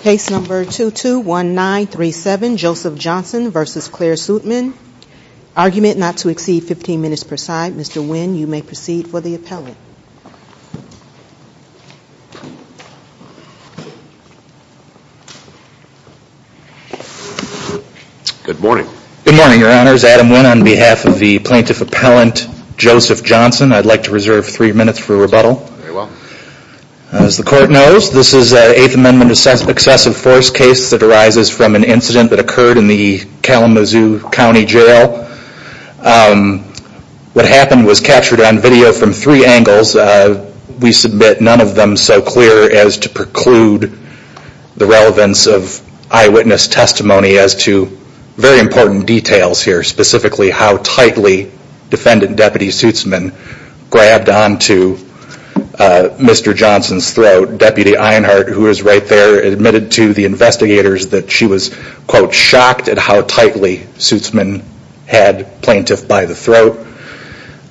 Case number 221937, Joseph Johnson v. Clair Sootsman. Argument not to exceed 15 minutes per side. Mr. Wynn, you may proceed for the appellant. Good morning. Good morning, Your Honors. Adam Wynn on behalf of the plaintiff appellant, Joseph Johnson. I'd like to reserve three minutes for rebuttal. Very well. As the court knows, this is an Eighth Amendment excessive force case that arises from an incident that occurred in the Kalamazoo County Jail. What happened was captured on video from three angles. We submit none of them so clear as to preclude the relevance of eyewitness testimony as to very important details here, specifically how tightly defendant Deputy Sootsman grabbed onto Mr. Johnson's throat. Deputy Einhardt, who is right there, admitted to the investigators that she was, quote, shocked at how tightly Sootsman had plaintiff by the throat.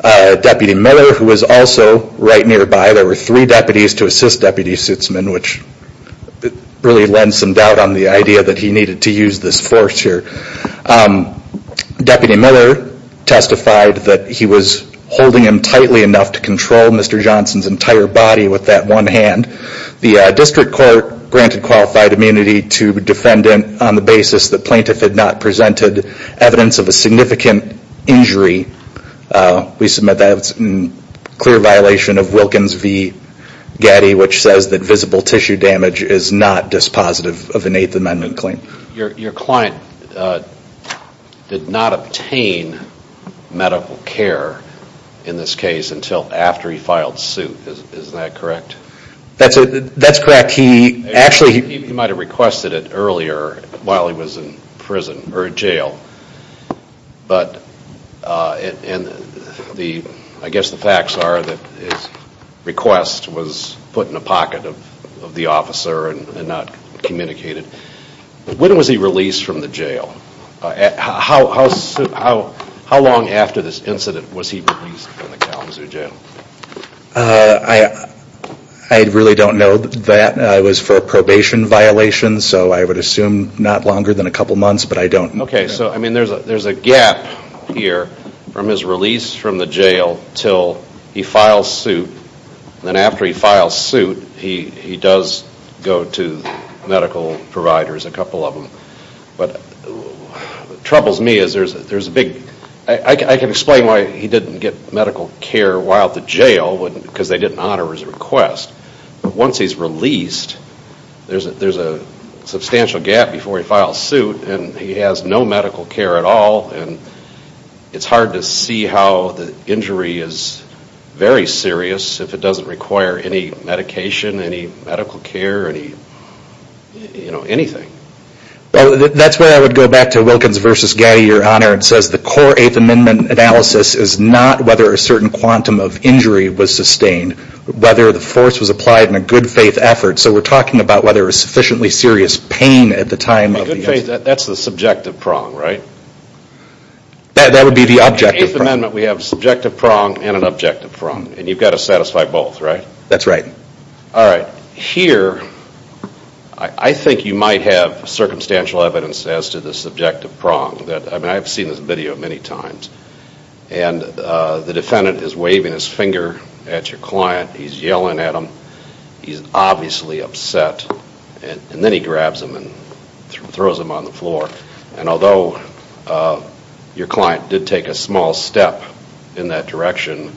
Deputy Miller, who was also right nearby. There were three deputies to assist Deputy Sootsman, which really lends some doubt on the idea that he needed to use this force here. Deputy Miller testified that he was holding him tightly enough to control Mr. Johnson's entire body with that one hand. The district court granted qualified immunity to defendant on the basis that plaintiff had not presented evidence of a significant injury. We submit that as a clear violation of Wilkins v. Getty, which says that visible tissue damage is not dispositive of an Eighth Amendment claim. Your client did not obtain medical care in this case until after he filed suit, is that correct? That's correct. He might have requested it earlier while he was in prison or jail, but I guess the facts are that his request was put in the pocket of the officer and not communicated. When was he released from the jail? How long after this incident was he released from the Kalamazoo jail? I really don't know that. It was for a probation violation, so I would assume not longer than a couple months, but I don't know. Okay, so there's a gap here from his release from the jail until he files suit. Then after he files suit, he does go to medical providers, a couple of them. What troubles me is, I can explain why he didn't get medical care while at the jail, because they didn't honor his request. Once he's released, there's a substantial gap before he files suit, and he has no medical care at all. It's hard to see how the injury is very serious if it doesn't require any medication, any medical care, anything. That's where I would go back to Wilkins v. Gaddy, Your Honor. It says the core Eighth Amendment analysis is not whether a certain quantum of injury was sustained, whether the force was applied in a good faith effort. So we're talking about whether a sufficiently serious pain at the time of the incident. Good faith, that's the subjective prong, right? That would be the objective prong. In the Eighth Amendment, we have a subjective prong and an objective prong, and you've got to satisfy both, right? That's right. All right. Here, I think you might have circumstantial evidence as to the subjective prong. I've seen this video many times, and the defendant is waving his finger at your client. He's yelling at him. He's obviously upset, and then he grabs him and throws him on the floor. And although your client did take a small step in that direction,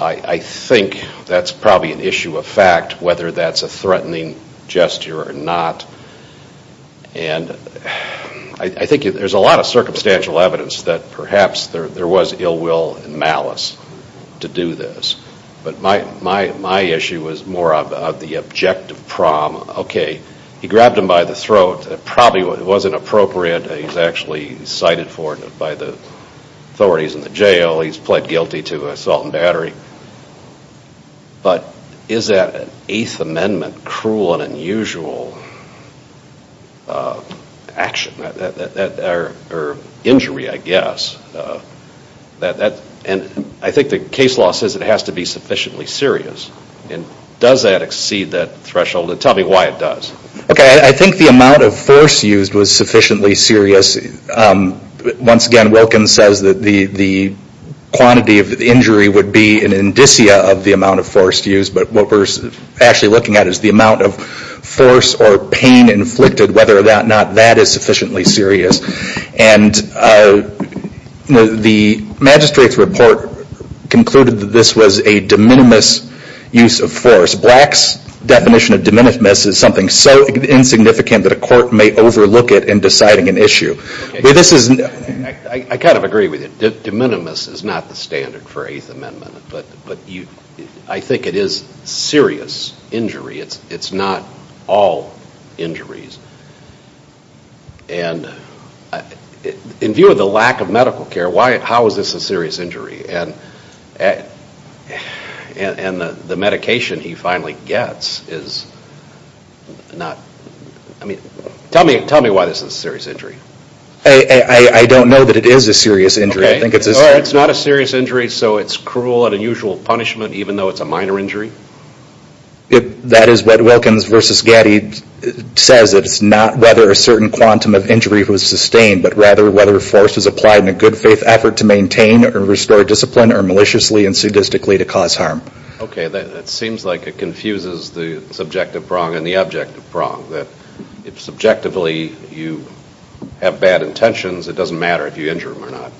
I think that's probably an issue of fact, whether that's a threatening gesture or not. And I think there's a lot of circumstantial evidence that perhaps there was ill will and malice to do this. But my issue was more of the objective prong. Okay, he grabbed him by the throat. It probably wasn't appropriate. He's actually cited for it by the authorities in the jail. He's pled guilty to assault and battery. But is that an Eighth Amendment cruel and unusual action or injury, I guess? And I think the case law says it has to be sufficiently serious. And does that exceed that threshold? And tell me why it does. Okay, I think the amount of force used was sufficiently serious. Once again, Wilkins says that the quantity of injury would be an indicia of the amount of force used. But what we're actually looking at is the amount of force or pain inflicted, whether or not that is sufficiently serious. And the magistrate's report concluded that this was a de minimis use of force. Black's definition of de minimis is something so insignificant that a court may overlook it in deciding an issue. I kind of agree with you. De minimis is not the standard for Eighth Amendment. But I think it is serious injury. It's not all injuries. And in view of the lack of medical care, how is this a serious injury? And the medication he finally gets is not... Tell me why this is a serious injury. I don't know that it is a serious injury. It's not a serious injury, so it's cruel and unusual punishment, even though it's a minor injury? That is what Wilkins v. Gaddy says. It's not whether a certain quantum of injury was sustained, but rather whether force was applied in a good faith effort to maintain or restore discipline, or maliciously and sadistically to cause harm. Okay, that seems like it confuses the subjective wrong and the objective wrong. That subjectively you have bad intentions, it doesn't matter if you injure them or not.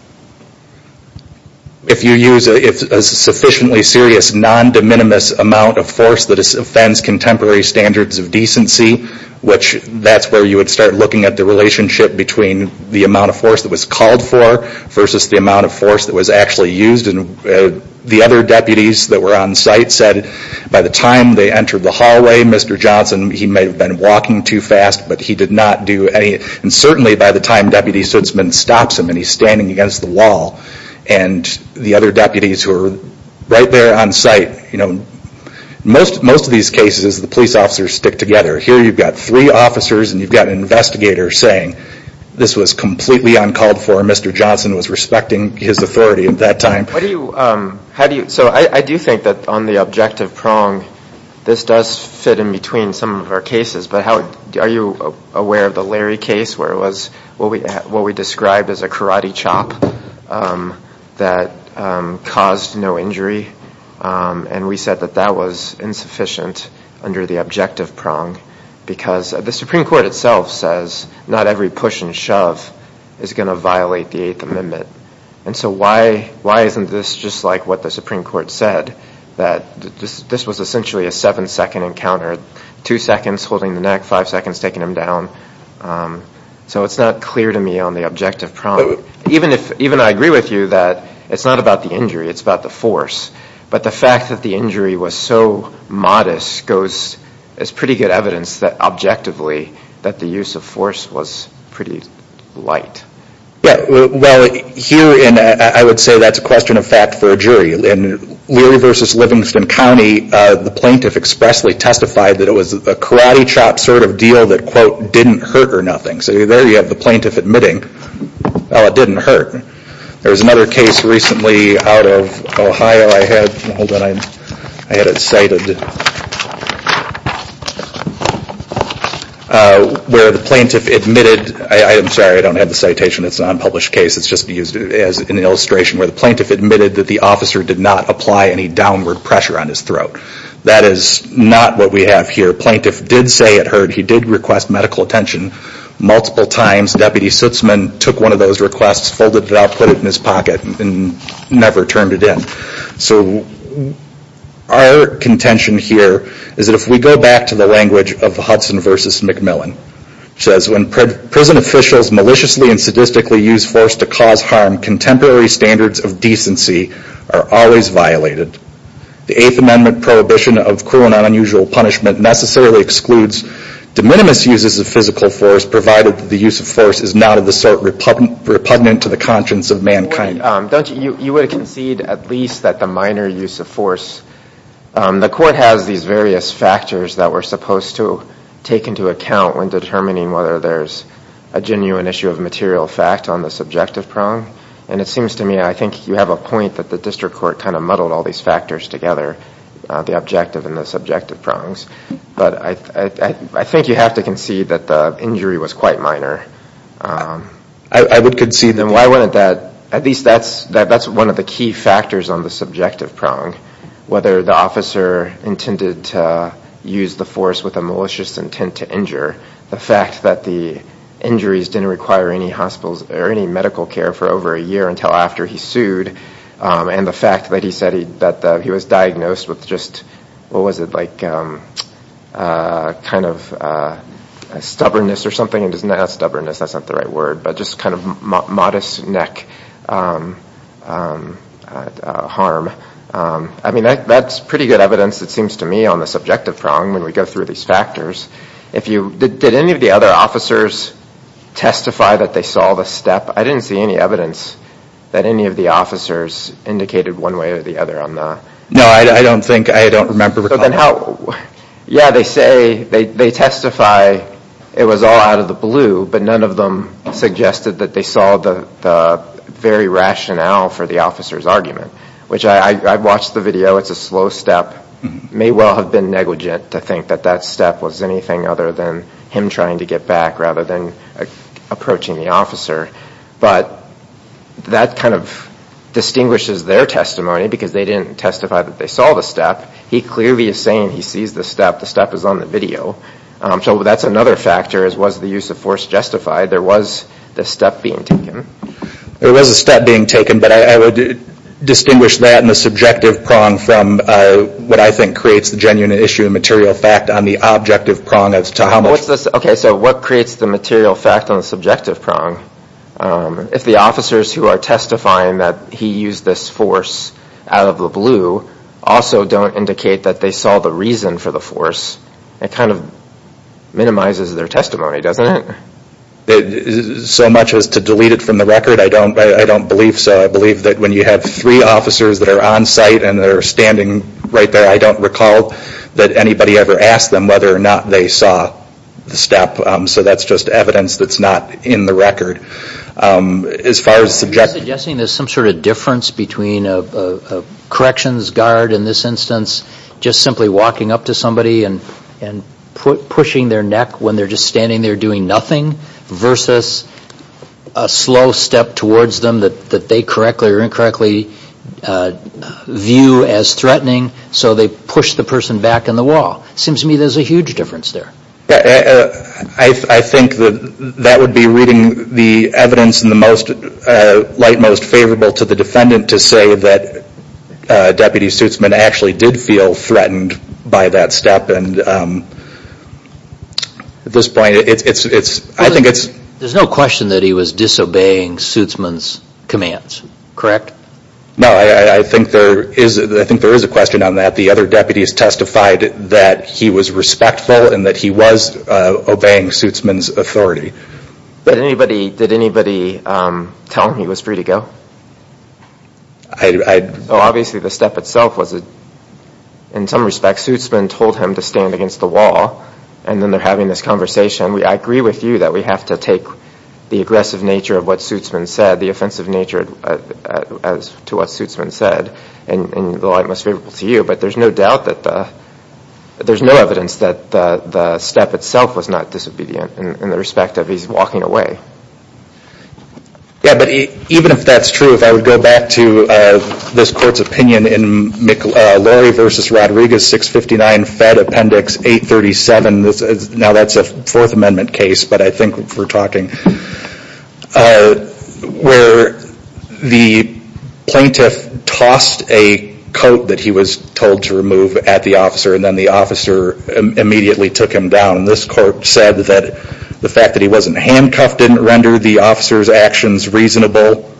If you use a sufficiently serious non-de minimis amount of force that offends contemporary standards of decency, that's where you would start looking at the relationship between the amount of force that was called for versus the amount of force that was actually used. The other deputies that were on site said by the time they entered the hallway, Mr. Johnson, he may have been walking too fast, but he did not do any... And certainly by the time Deputy Stutzman stops him and he's standing against the wall, and the other deputies who are right there on site, most of these cases the police officers stick together. Here you've got three officers and you've got an investigator saying, this was completely uncalled for, Mr. Johnson was respecting his authority at that time. So I do think that on the objective prong, this does fit in between some of our cases, but are you aware of the Larry case where it was what we described as a karate chop that caused no injury? And we said that that was insufficient under the objective prong because the Supreme Court itself says not every push and shove is going to violate the Eighth Amendment. And so why isn't this just like what the Supreme Court said, that this was essentially a seven-second encounter, two seconds holding the neck, five seconds taking him down. So it's not clear to me on the objective prong. Even I agree with you that it's not about the injury, it's about the force. But the fact that the injury was so modest goes as pretty good evidence that objectively, that the use of force was pretty light. Yeah, well, here I would say that's a question of fact for a jury. In Leary v. Livingston County, the plaintiff expressly testified that it was a karate chop sort of deal that quote, didn't hurt or nothing. So there you have the plaintiff admitting, oh, it didn't hurt. There was another case recently out of Ohio I had, hold on, I had it cited, where the plaintiff admitted, I'm sorry, I don't have the citation, it's a non-published case, it's just used as an illustration where the plaintiff admitted that the officer did not apply any downward pressure on his throat. That is not what we have here. Plaintiff did say it hurt, he did request medical attention multiple times. Deputy Sutzman took one of those requests, folded it up, put it in his pocket and never turned it in. So our contention here is that if we go back to the language of Hudson v. McMillan, which says when prison officials maliciously and sadistically use force to cause harm, contemporary standards of decency are always violated. The Eighth Amendment prohibition of cruel and unusual punishment necessarily excludes de minimis uses of physical force provided that the use of force is not of the sort repugnant to the conscience of mankind. You would concede at least that the minor use of force, the court has these various factors that we're supposed to take into account when determining whether there's a genuine issue of material fact on the subjective prong. And it seems to me, I think you have a point that the district court kind of muddled all these factors together, the objective and the subjective prongs. But I think you have to concede that the injury was quite minor. I would concede that. At least that's one of the key factors on the subjective prong, whether the officer intended to use the force with a malicious intent to injure, the fact that the injuries didn't require any medical care for over a year until after he sued, and the fact that he said that he was diagnosed with just, what was it, like kind of stubbornness or something. It's not stubbornness. That's not the right word, but just kind of modest neck harm. I mean, that's pretty good evidence, it seems to me, on the subjective prong when we go through these factors. Did any of the other officers testify that they saw the step? I didn't see any evidence that any of the officers indicated one way or the other on that. No, I don't think, I don't remember. Yeah, they say, they testify it was all out of the blue, but none of them suggested that they saw the very rationale for the officer's argument, which I've watched the video. It's a slow step. It may well have been negligent to think that that step was anything other than him trying to get back rather than approaching the officer. But that kind of distinguishes their testimony because they didn't testify that they saw the step. He clearly is saying he sees the step. The step is on the video. So that's another factor as was the use of force justified. There was the step being taken. There was a step being taken, but I would distinguish that and the subjective prong from what I think creates the genuine issue and material fact on the objective prong as to how much. Okay, so what creates the material fact on the subjective prong? If the officers who are testifying that he used this force out of the blue also don't indicate that they saw the reason for the force, it kind of minimizes their testimony, doesn't it? So much as to delete it from the record, I don't believe so. I believe that when you have three officers that are on site and they're standing right there, I don't recall that anybody ever asked them whether or not they saw the step. So that's just evidence that's not in the record. As far as the subjective prong. You're suggesting there's some sort of difference between a corrections guard in this instance just simply walking up to somebody and pushing their neck when they're just standing there doing nothing versus a slow step towards them that they correctly or incorrectly view as threatening so they push the person back in the wall. It seems to me there's a huge difference there. I think that would be reading the evidence in the light most favorable to the defendant to say that Deputy Suitsman actually did feel threatened by that step. At this point, I think it's... There's no question that he was disobeying Suitsman's commands, correct? No, I think there is a question on that. The other deputies testified that he was respectful and that he was obeying Suitsman's authority. Did anybody tell him he was free to go? I... Obviously the step itself was, in some respects, Suitsman told him to stand against the wall and then they're having this conversation. I agree with you that we have to take the aggressive nature of what Suitsman said, the offensive nature as to what Suitsman said, in the light most favorable to you, but there's no doubt that the... There's no evidence that the step itself was not disobedient in the respect of his walking away. Yeah, but even if that's true, if I would go back to this court's opinion in Lori v. Rodriguez, 659 Fed Appendix 837. Now that's a Fourth Amendment case, but I think we're talking. Where the plaintiff tossed a coat that he was told to remove at the officer and then the officer immediately took him down. This court said that the fact that he wasn't handcuffed didn't render the officer's actions reasonable.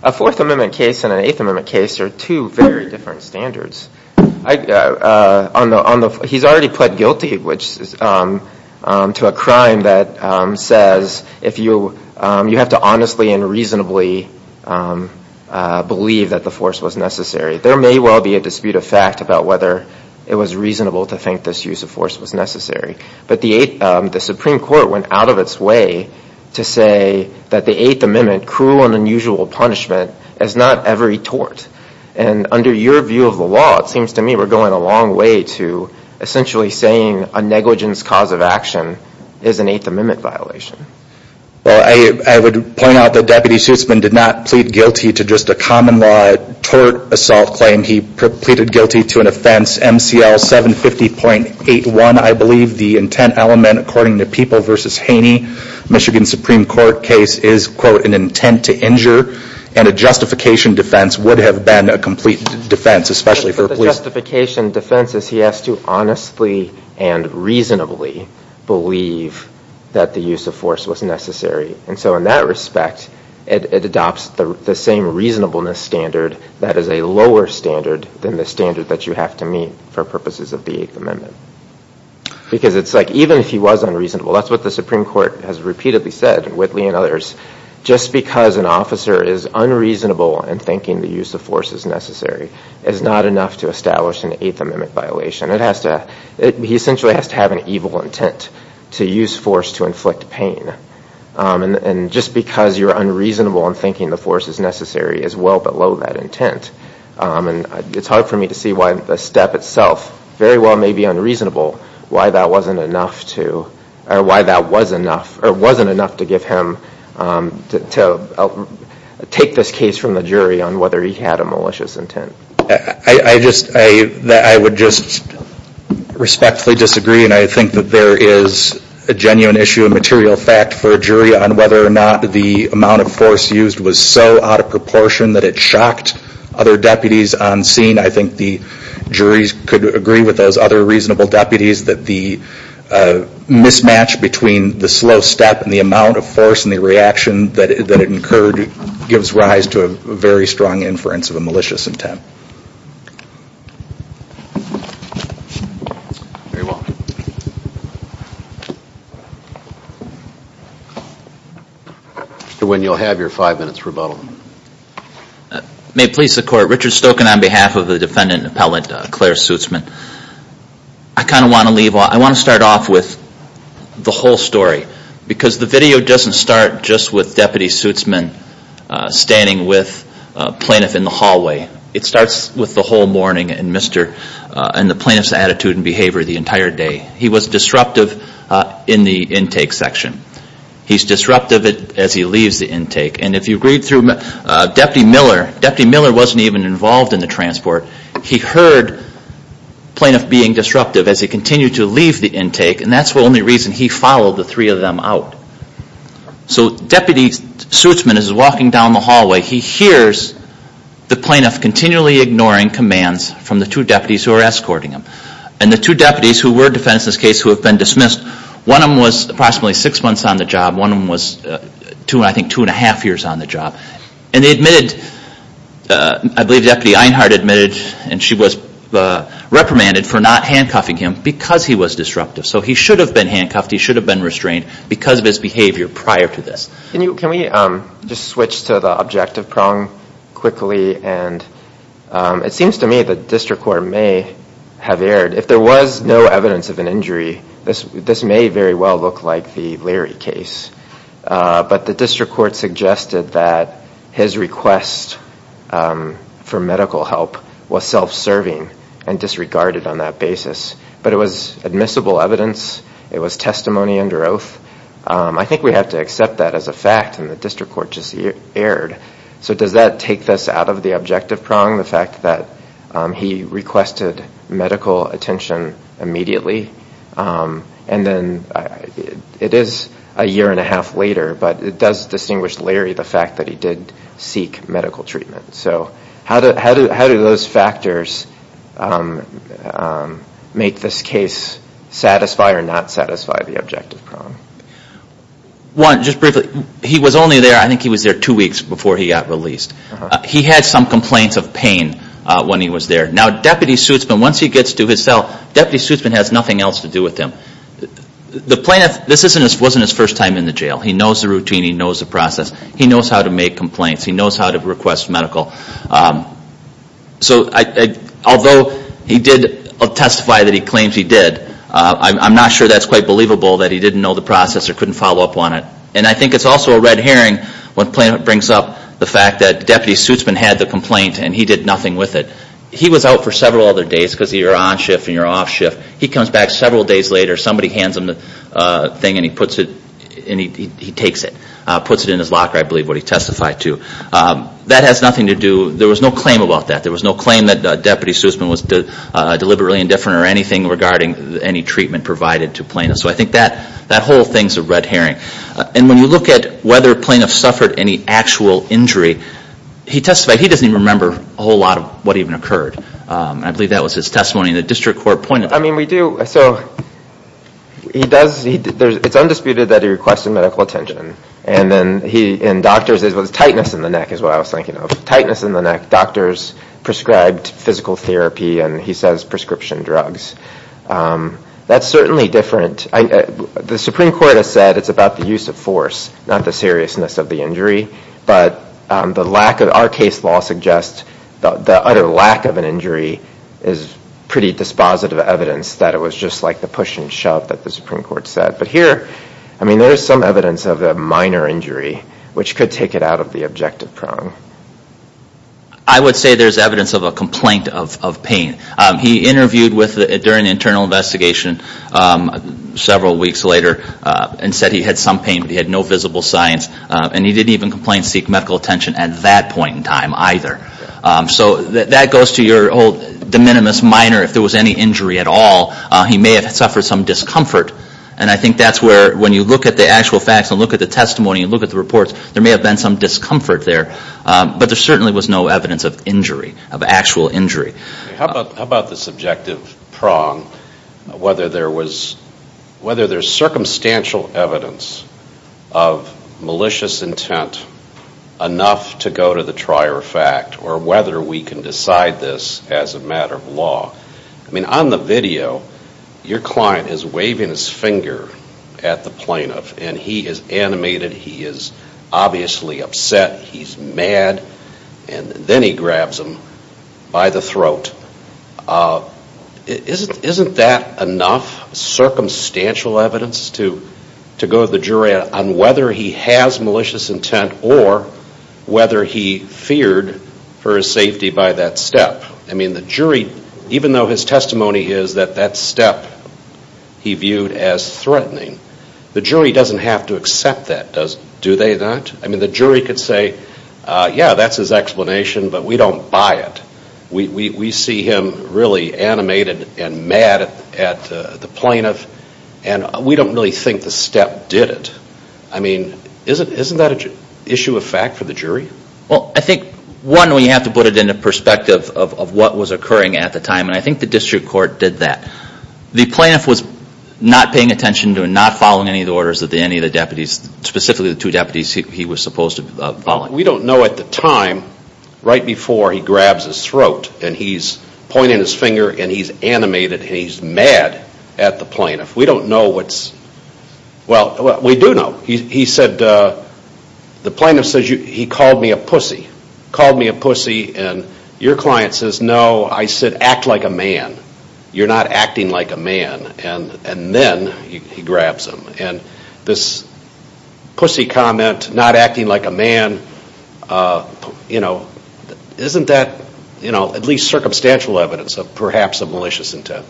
A Fourth Amendment case and an Eighth Amendment case are two very different standards. He's already pled guilty to a crime that says you have to honestly and reasonably believe that the force was necessary. There may well be a dispute of fact about whether it was reasonable to think this use of force was necessary, but the Supreme Court went out of its way to say that the Eighth Amendment, cruel and unusual punishment, is not every tort. And under your view of the law, it seems to me we're going a long way to essentially saying a negligence cause of action is an Eighth Amendment violation. Well, I would point out that Deputy Schussman did not plead guilty to just a common law tort assault claim. He pleaded guilty to an offense MCL 750.81. I believe the intent element, according to People v. Haney, Michigan Supreme Court case, is, quote, an intent to injure. And a justification defense would have been a complete defense, especially for police. But the justification defense is he has to honestly and reasonably believe that the use of force was necessary. And so in that respect, it adopts the same reasonableness standard that is a lower standard than the standard that you have to meet for purposes of the Eighth Amendment. Because it's like even if he was unreasonable, that's what the Supreme Court has repeatedly said, Whitley and others, just because an officer is unreasonable in thinking the use of force is necessary is not enough to establish an Eighth Amendment violation. He essentially has to have an evil intent to use force to inflict pain. And just because you're unreasonable in thinking the force is necessary is well below that intent. And it's hard for me to see why the step itself very well may be unreasonable, why that wasn't enough to give him to take this case from the jury on whether he had a malicious intent. I would just respectfully disagree, and I think that there is a genuine issue of material fact for a jury on whether or not the amount of force used was so out of proportion that it shocked other deputies on scene. I think the juries could agree with those other reasonable deputies that the mismatch between the slow step and the amount of force and the reaction that it incurred gives rise to a very strong inference of a malicious intent. Very well. Mr. Wynn, you'll have your five minutes rebuttal. May it please the Court, Richard Stokin on behalf of the defendant and appellate Claire Suitsman. I kind of want to leave, I want to start off with the whole story, because the video doesn't start just with Deputy Suitsman standing with a plaintiff in the hallway. It starts with the whole morning and the plaintiff's attitude and behavior the entire day. He was disruptive in the intake section. He's disruptive as he leaves the intake, and if you read through Deputy Miller, Deputy Miller wasn't even involved in the transport. He heard plaintiff being disruptive as he continued to leave the intake, and that's the only reason he followed the three of them out. So Deputy Suitsman is walking down the hallway. He hears the plaintiff continually ignoring commands from the two deputies who are escorting him, and the two deputies who were defendants in this case who have been dismissed, one of them was approximately six months on the job. One of them was, I think, two and a half years on the job. And they admitted, I believe Deputy Einhardt admitted, and she was reprimanded for not handcuffing him because he was disruptive. So he should have been handcuffed. He should have been restrained because of his behavior prior to this. Can we just switch to the objective prong quickly? And it seems to me the district court may have erred. If there was no evidence of an injury, this may very well look like the Leary case. But the district court suggested that his request for medical help was self-serving and disregarded on that basis. But it was admissible evidence. It was testimony under oath. I think we have to accept that as a fact, and the district court just erred. So does that take this out of the objective prong, the fact that he requested medical attention immediately? And then it is a year and a half later, but it does distinguish Leary, the fact that he did seek medical treatment. So how do those factors make this case satisfy or not satisfy the objective prong? One, just briefly, he was only there, I think he was there two weeks before he got released. He had some complaints of pain when he was there. Now, Deputy Suitsman, once he gets to his cell, Deputy Suitsman has nothing else to do with him. The plaintiff, this wasn't his first time in the jail. He knows the routine. He knows the process. He knows how to make complaints. He knows how to request medical. So although he did testify that he claims he did, I'm not sure that's quite believable that he didn't know the process or couldn't follow up on it. And I think it's also a red herring when the plaintiff brings up the fact that Deputy Suitsman had the complaint and he did nothing with it. He was out for several other days because you're on shift and you're off shift. He comes back several days later, somebody hands him the thing and he takes it, puts it in his locker, I believe, where he testified to. That has nothing to do, there was no claim about that. There was no claim that Deputy Suitsman was deliberately indifferent or anything regarding any treatment provided to plaintiffs. So I think that whole thing is a red herring. And when you look at whether plaintiffs suffered any actual injury, he testified he doesn't even remember a whole lot of what even occurred. I believe that was his testimony. The district court pointed that out. I mean, we do. So he does, it's undisputed that he requested medical attention. And then he, and doctors, it was tightness in the neck is what I was thinking of. Tightness in the neck. Doctors prescribed physical therapy and he says prescription drugs. That's certainly different. The Supreme Court has said it's about the use of force, not the seriousness of the injury. But the lack of, our case law suggests the utter lack of an injury is pretty dispositive evidence that it was just like the push and shove that the Supreme Court said. But here, I mean, there is some evidence of a minor injury which could take it out of the objective prong. I would say there's evidence of a complaint of pain. He interviewed during the internal investigation several weeks later and said he had some pain, but he had no visible signs. And he didn't even complain, seek medical attention at that point in time either. So that goes to your whole de minimis minor, if there was any injury at all, he may have suffered some discomfort. And I think that's where, when you look at the actual facts and look at the testimony and look at the reports, there may have been some discomfort there. But there certainly was no evidence of injury, of actual injury. How about the subjective prong, whether there's circumstantial evidence of malicious intent enough to go to the trier of fact, or whether we can decide this as a matter of law. I mean, on the video, your client is waving his finger at the plaintiff, and he is animated, he is obviously upset, he's mad, and then he grabs him by the throat. Isn't that enough circumstantial evidence to go to the jury on whether he has malicious intent or whether he feared for his safety by that step? I mean, the jury, even though his testimony is that that step he viewed as threatening, the jury doesn't have to accept that, do they not? I mean, the jury could say, yeah, that's his explanation, but we don't buy it. We see him really animated and mad at the plaintiff, and we don't really think the step did it. I mean, isn't that an issue of fact for the jury? Well, I think, one, we have to put it into perspective of what was occurring at the time, and I think the district court did that. The plaintiff was not paying attention to and not following any of the orders of any of the deputies, specifically the two deputies he was supposed to be following. We don't know at the time right before he grabs his throat and he's pointing his finger and he's animated and he's mad at the plaintiff. We don't know what's, well, we do know. He said, the plaintiff says he called me a pussy, called me a pussy, and your client says, no, I said act like a man. You're not acting like a man. And then he grabs him. And this pussy comment, not acting like a man, isn't that at least circumstantial evidence of perhaps a malicious intent?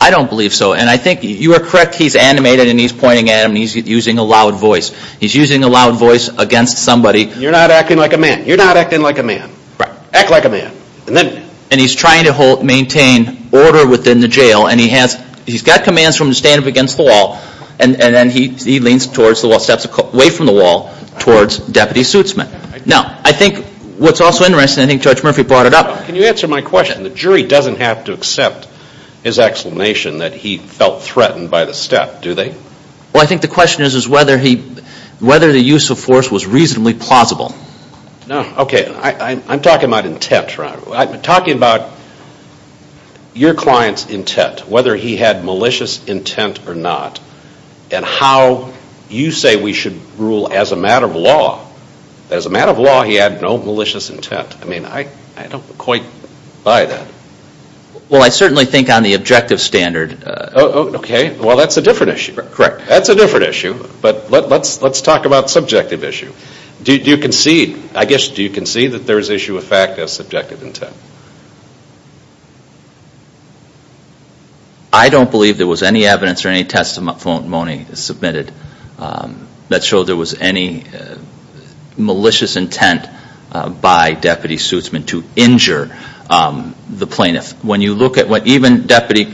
I don't believe so, and I think you are correct. He's animated and he's pointing at him and he's using a loud voice. He's using a loud voice against somebody. You're not acting like a man. You're not acting like a man. Act like a man. And he's trying to maintain order within the jail, and he's got commands for him to stand up against the wall, and then he leans towards the wall, steps away from the wall towards Deputy Suitsman. Now, I think what's also interesting, I think Judge Murphy brought it up. Can you answer my question? The jury doesn't have to accept his explanation that he felt threatened by the step, do they? Well, I think the question is whether the use of force was reasonably plausible. Okay, I'm talking about intent. I'm talking about your client's intent, whether he had malicious intent or not, and how you say we should rule as a matter of law that as a matter of law he had no malicious intent. I mean, I don't quite buy that. Well, I certainly think on the objective standard. Okay, well, that's a different issue. Correct. That's a different issue, but let's talk about subjective issue. Do you concede, I guess, do you concede that there is issue of fact as subjective intent? I don't believe there was any evidence or any testimony submitted that showed there was any malicious intent by Deputy Suitsman to injure the plaintiff. When you look at what even Deputy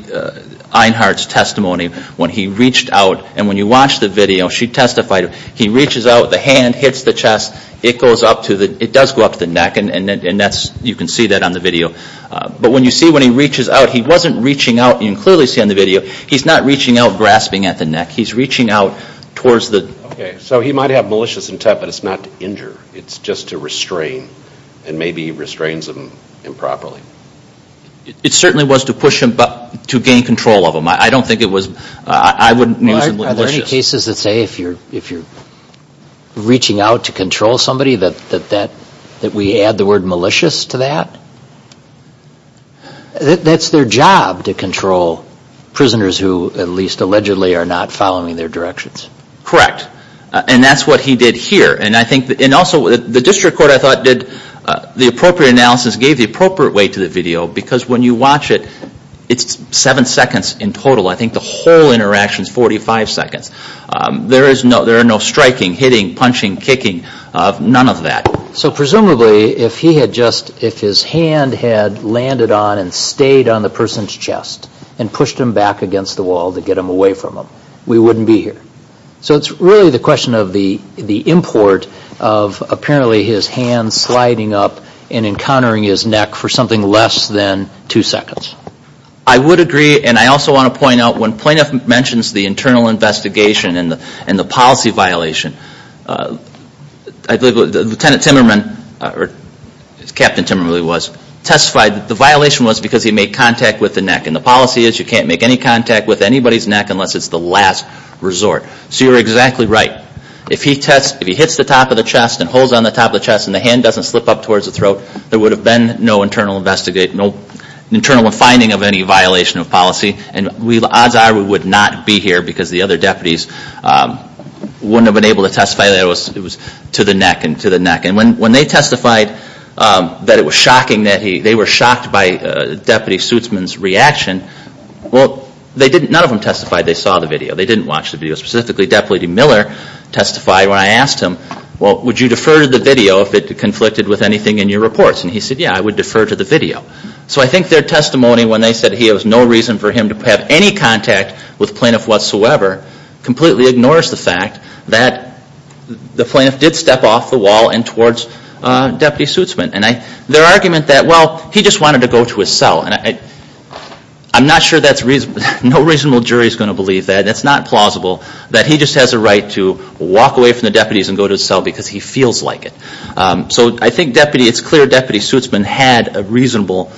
Einhardt's testimony, when he reached out, and when you watch the video, she testified, he reaches out, the hand hits the chest, it goes up to the, it does go up to the neck, and that's, you can see that on the video. But when you see when he reaches out, he wasn't reaching out, you can clearly see on the video, he's not reaching out grasping at the neck. He's reaching out towards the. Okay, so he might have malicious intent, but it's not to injure. It's just to restrain, and maybe he restrains him improperly. It certainly was to push him, but to gain control of him. I don't think it was, I wouldn't use the word malicious. Are there any cases that say if you're reaching out to control somebody, that we add the word malicious to that? That's their job to control prisoners who, at least allegedly, are not following their directions. Correct. And that's what he did here. And I think, and also the district court, I thought, did the appropriate analysis, gave the appropriate weight to the video, because when you watch it, it's seven seconds in total. I think the whole interaction is 45 seconds. There is no, there are no striking, hitting, punching, kicking, none of that. So presumably, if he had just, if his hand had landed on and stayed on the person's chest, and pushed him back against the wall to get him away from him, we wouldn't be here. So it's really the question of the import of apparently his hand sliding up and encountering his neck for something less than two seconds. I would agree, and I also want to point out, when Plaintiff mentions the internal investigation and the policy violation, Lieutenant Timmerman, or as Captain Timmerman really was, testified that the violation was because he made contact with the neck. And the policy is you can't make any contact with anybody's neck unless it's the last resort. So you're exactly right. If he tests, if he hits the top of the chest and holds on the top of the chest and the hand doesn't slip up towards the throat, there would have been no internal investigation, no internal finding of any violation of policy. And odds are we would not be here because the other deputies wouldn't have been able to testify that it was to the neck and to the neck. And when they testified that it was shocking, that they were shocked by Deputy Suitzman's reaction, well, none of them testified they saw the video. They didn't watch the video. Specifically, Deputy Miller testified when I asked him, well, would you defer to the video if it conflicted with anything in your reports? And he said, yeah, I would defer to the video. So I think their testimony when they said there was no reason for him to have any contact with Plaintiff whatsoever completely ignores the fact that the Plaintiff did step off the wall and towards Deputy Suitzman. And their argument that, well, he just wanted to go to his cell. And I'm not sure that's reasonable. No reasonable jury is going to believe that. It's not plausible that he just has a right to walk away from the deputies and go to his cell because he feels like it. So I think it's clear Deputy Suitzman had a reasonable,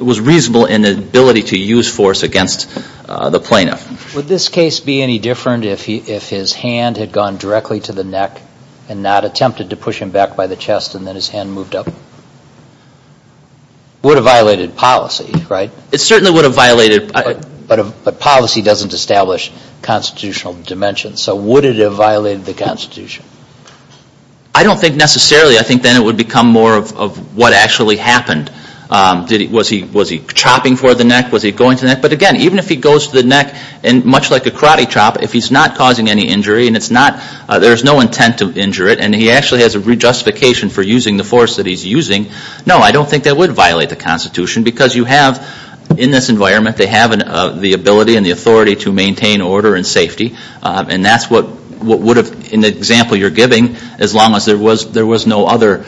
was reasonable in the ability to use force against the Plaintiff. Would this case be any different if his hand had gone directly to the neck and not attempted to push him back by the chest and then his hand moved up? It would have violated policy, right? It certainly would have violated. But policy doesn't establish constitutional dimensions. So would it have violated the Constitution? I don't think necessarily. I think then it would become more of what actually happened. Was he chopping toward the neck? Was he going to the neck? But, again, even if he goes to the neck, much like a karate chop, if he's not causing any injury and it's not, there's no intent to injure it and he actually has a re-justification for using the force that he's using, no, I don't think that would violate the Constitution because you have, in this environment, they have the ability and the authority to maintain order and safety. And that's what would have, in the example you're giving, as long as there was no other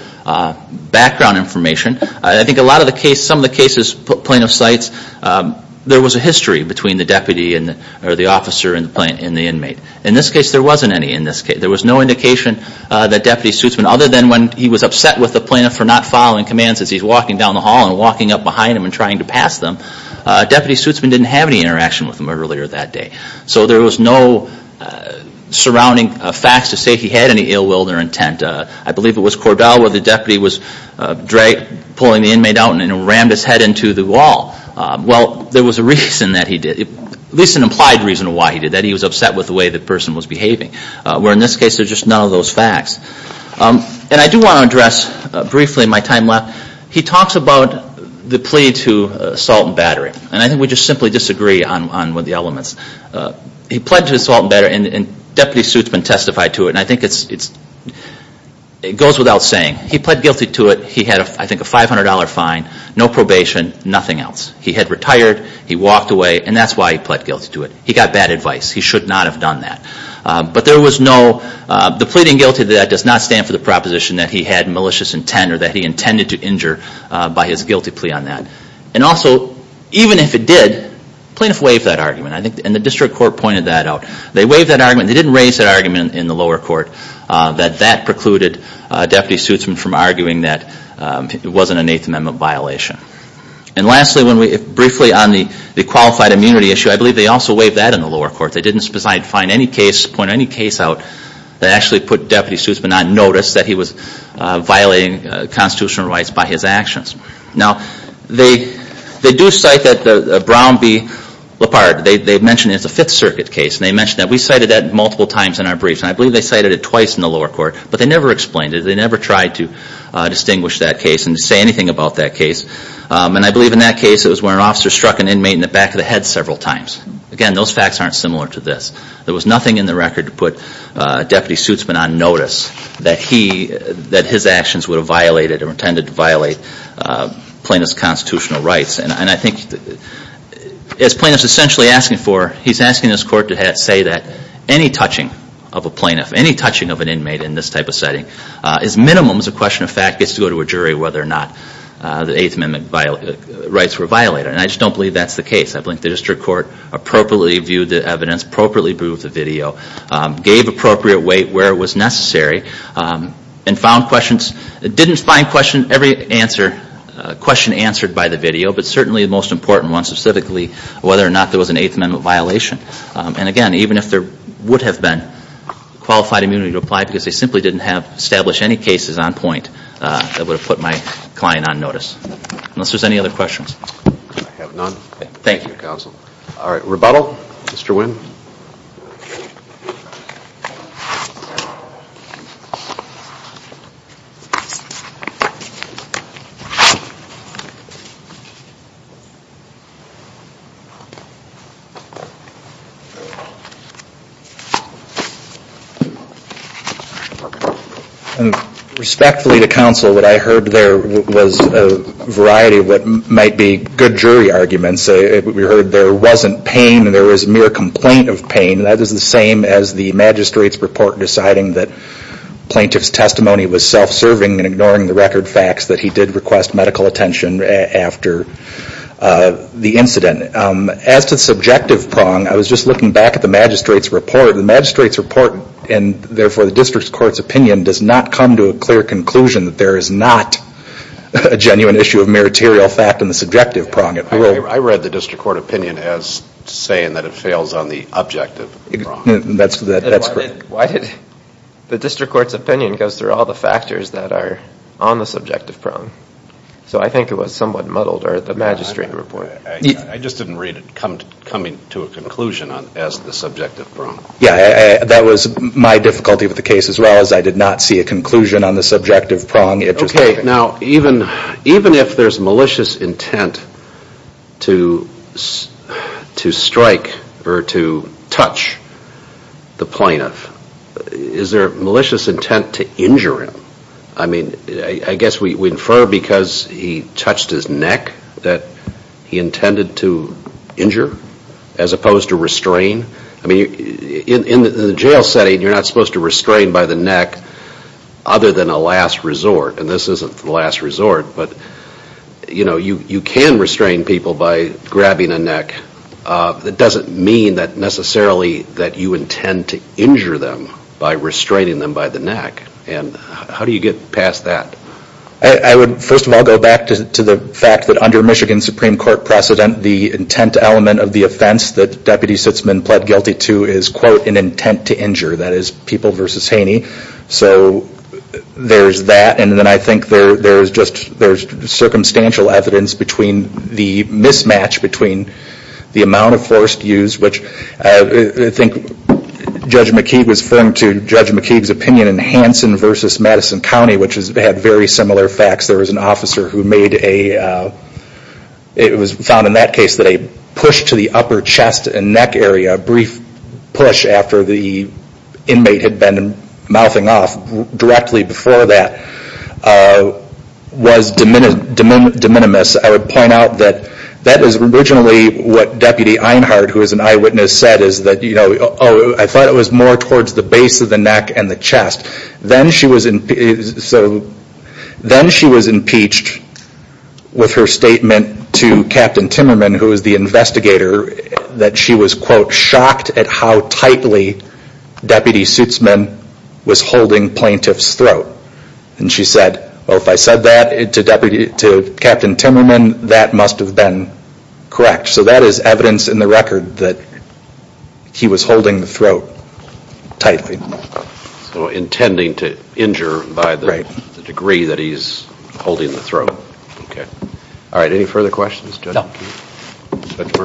background information. I think a lot of the cases, some of the cases plaintiff cites, there was a history between the deputy or the officer and the inmate. In this case, there wasn't any in this case. There was no indication that Deputy Suitsman, other than when he was upset with the plaintiff for not following commands as he's walking down the hall and walking up behind him and trying to pass them, Deputy Suitsman didn't have any interaction with him earlier that day. So there was no surrounding facts to say he had any ill will or intent. I believe it was Cordell where the deputy was pulling the inmate out and rammed his head into the wall. Well, there was a reason that he did, at least an implied reason why he did that. He was upset with the way the person was behaving. Where in this case, there's just none of those facts. And I do want to address briefly in my time left, he talks about the plea to assault and battery. And I think we just simply disagree on the elements. He pled to assault and battery and Deputy Suitsman testified to it. And I think it goes without saying. He pled guilty to it. He had, I think, a $500 fine, no probation, nothing else. He had retired. He walked away. And that's why he pled guilty to it. He got bad advice. He should not have done that. But there was no – the pleading guilty to that does not stand for the proposition that he had malicious intent or that he intended to injure by his guilty plea on that. And also, even if it did, the plaintiff waived that argument. And the district court pointed that out. They waived that argument. They didn't raise that argument in the lower court, that that precluded Deputy Suitsman from arguing that it wasn't an Eighth Amendment violation. And lastly, briefly on the qualified immunity issue, I believe they also waived that in the lower court. They didn't point any case out that actually put Deputy Suitsman on notice that he was violating constitutional rights by his actions. Now, they do cite that Brown v. Lippard, they mention it's a Fifth Circuit case. And they mention that. We cited that multiple times in our briefs. And I believe they cited it twice in the lower court. But they never explained it. They never tried to distinguish that case and to say anything about that case. And I believe in that case it was where an officer struck an inmate in the back of the head several times. Again, those facts aren't similar to this. There was nothing in the record to put Deputy Suitsman on notice that he – that his actions would have violated or intended to violate plaintiff's constitutional rights. And I think as plaintiff's essentially asking for – he's asking this court to say that any touching of a plaintiff, any touching of an inmate in this type of setting is minimum as a question of fact gets to go to a jury whether or not the Eighth Amendment rights were violated. And I just don't believe that's the case. I believe the district court appropriately viewed the evidence, appropriately viewed the video, gave appropriate weight where it was necessary, and found questions – didn't find question – every answer – question answered by the video, but certainly the most important one specifically whether or not there was an Eighth Amendment violation. And again, even if there would have been qualified immunity to apply because they simply didn't have – establish any cases on point that would have put my client on notice. Unless there's any other questions. I have none. Thank you. Thank you, Counsel. All right, rebuttal. Mr. Wynn. Thank you. Respectfully to Counsel, what I heard there was a variety of what might be good jury arguments. We heard there wasn't pain and there was mere complaint of pain. And that is the same as the magistrate's report deciding that plaintiff's testimony was self-serving and ignoring the record facts that he did request medical attention after the incident. As to the subjective prong, I was just looking back at the magistrate's report. The magistrate's report, and therefore the district court's opinion, does not come to a clear conclusion that there is not a genuine issue of meritorial fact in the subjective prong. I read the district court opinion as saying that it fails on the objective prong. That's correct. Why did – the district court's opinion goes through all the factors that are on the subjective prong. So I think it was somewhat muddled, or the magistrate report. I just didn't read it coming to a conclusion as the subjective prong. Yeah, that was my difficulty with the case as well, is I did not see a conclusion on the subjective prong. Okay, now even if there's malicious intent to strike or to touch the plaintiff, is there malicious intent to injure him? I mean, I guess we infer because he touched his neck that he intended to injure as opposed to restrain. I mean, in the jail setting, you're not supposed to restrain by the neck other than a last resort, and this isn't the last resort. But, you know, you can restrain people by grabbing a neck. That doesn't mean that necessarily that you intend to injure them by restraining them by the neck. And how do you get past that? I would first of all go back to the fact that under Michigan Supreme Court precedent, the intent element of the offense that Deputy Sitzman pled guilty to is, quote, an intent to injure. That is, People v. Haney. So there's that, and then I think there's just circumstantial evidence between the mismatch, between the amount of force used, which I think Judge McKeague was firm to Judge McKeague's opinion in Hanson v. Madison County, which had very similar facts. There was an officer who made a, it was found in that case that a push to the upper chest and neck area, a brief push after the inmate had been mouthing off directly before that, was de minimis. I would point out that that is originally what Deputy Einhardt, who is an eyewitness, said, is that, you know, oh, I thought it was more towards the base of the neck and the chest. Then she was impeached with her statement to Captain Timmerman, who is the investigator, that she was, quote, shocked at how tightly Deputy Sitzman was holding plaintiff's throat. And she said, well, if I said that to Captain Timmerman, that must have been correct. So that is evidence in the record that he was holding the throat tightly. So intending to injure by the degree that he's holding the throat. Okay. All right. Any further questions? No. All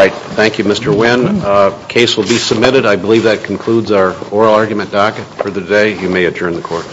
right. Thank you, Mr. Wynn. Case will be submitted. I believe that concludes our oral argument docket for the day. You may adjourn the court.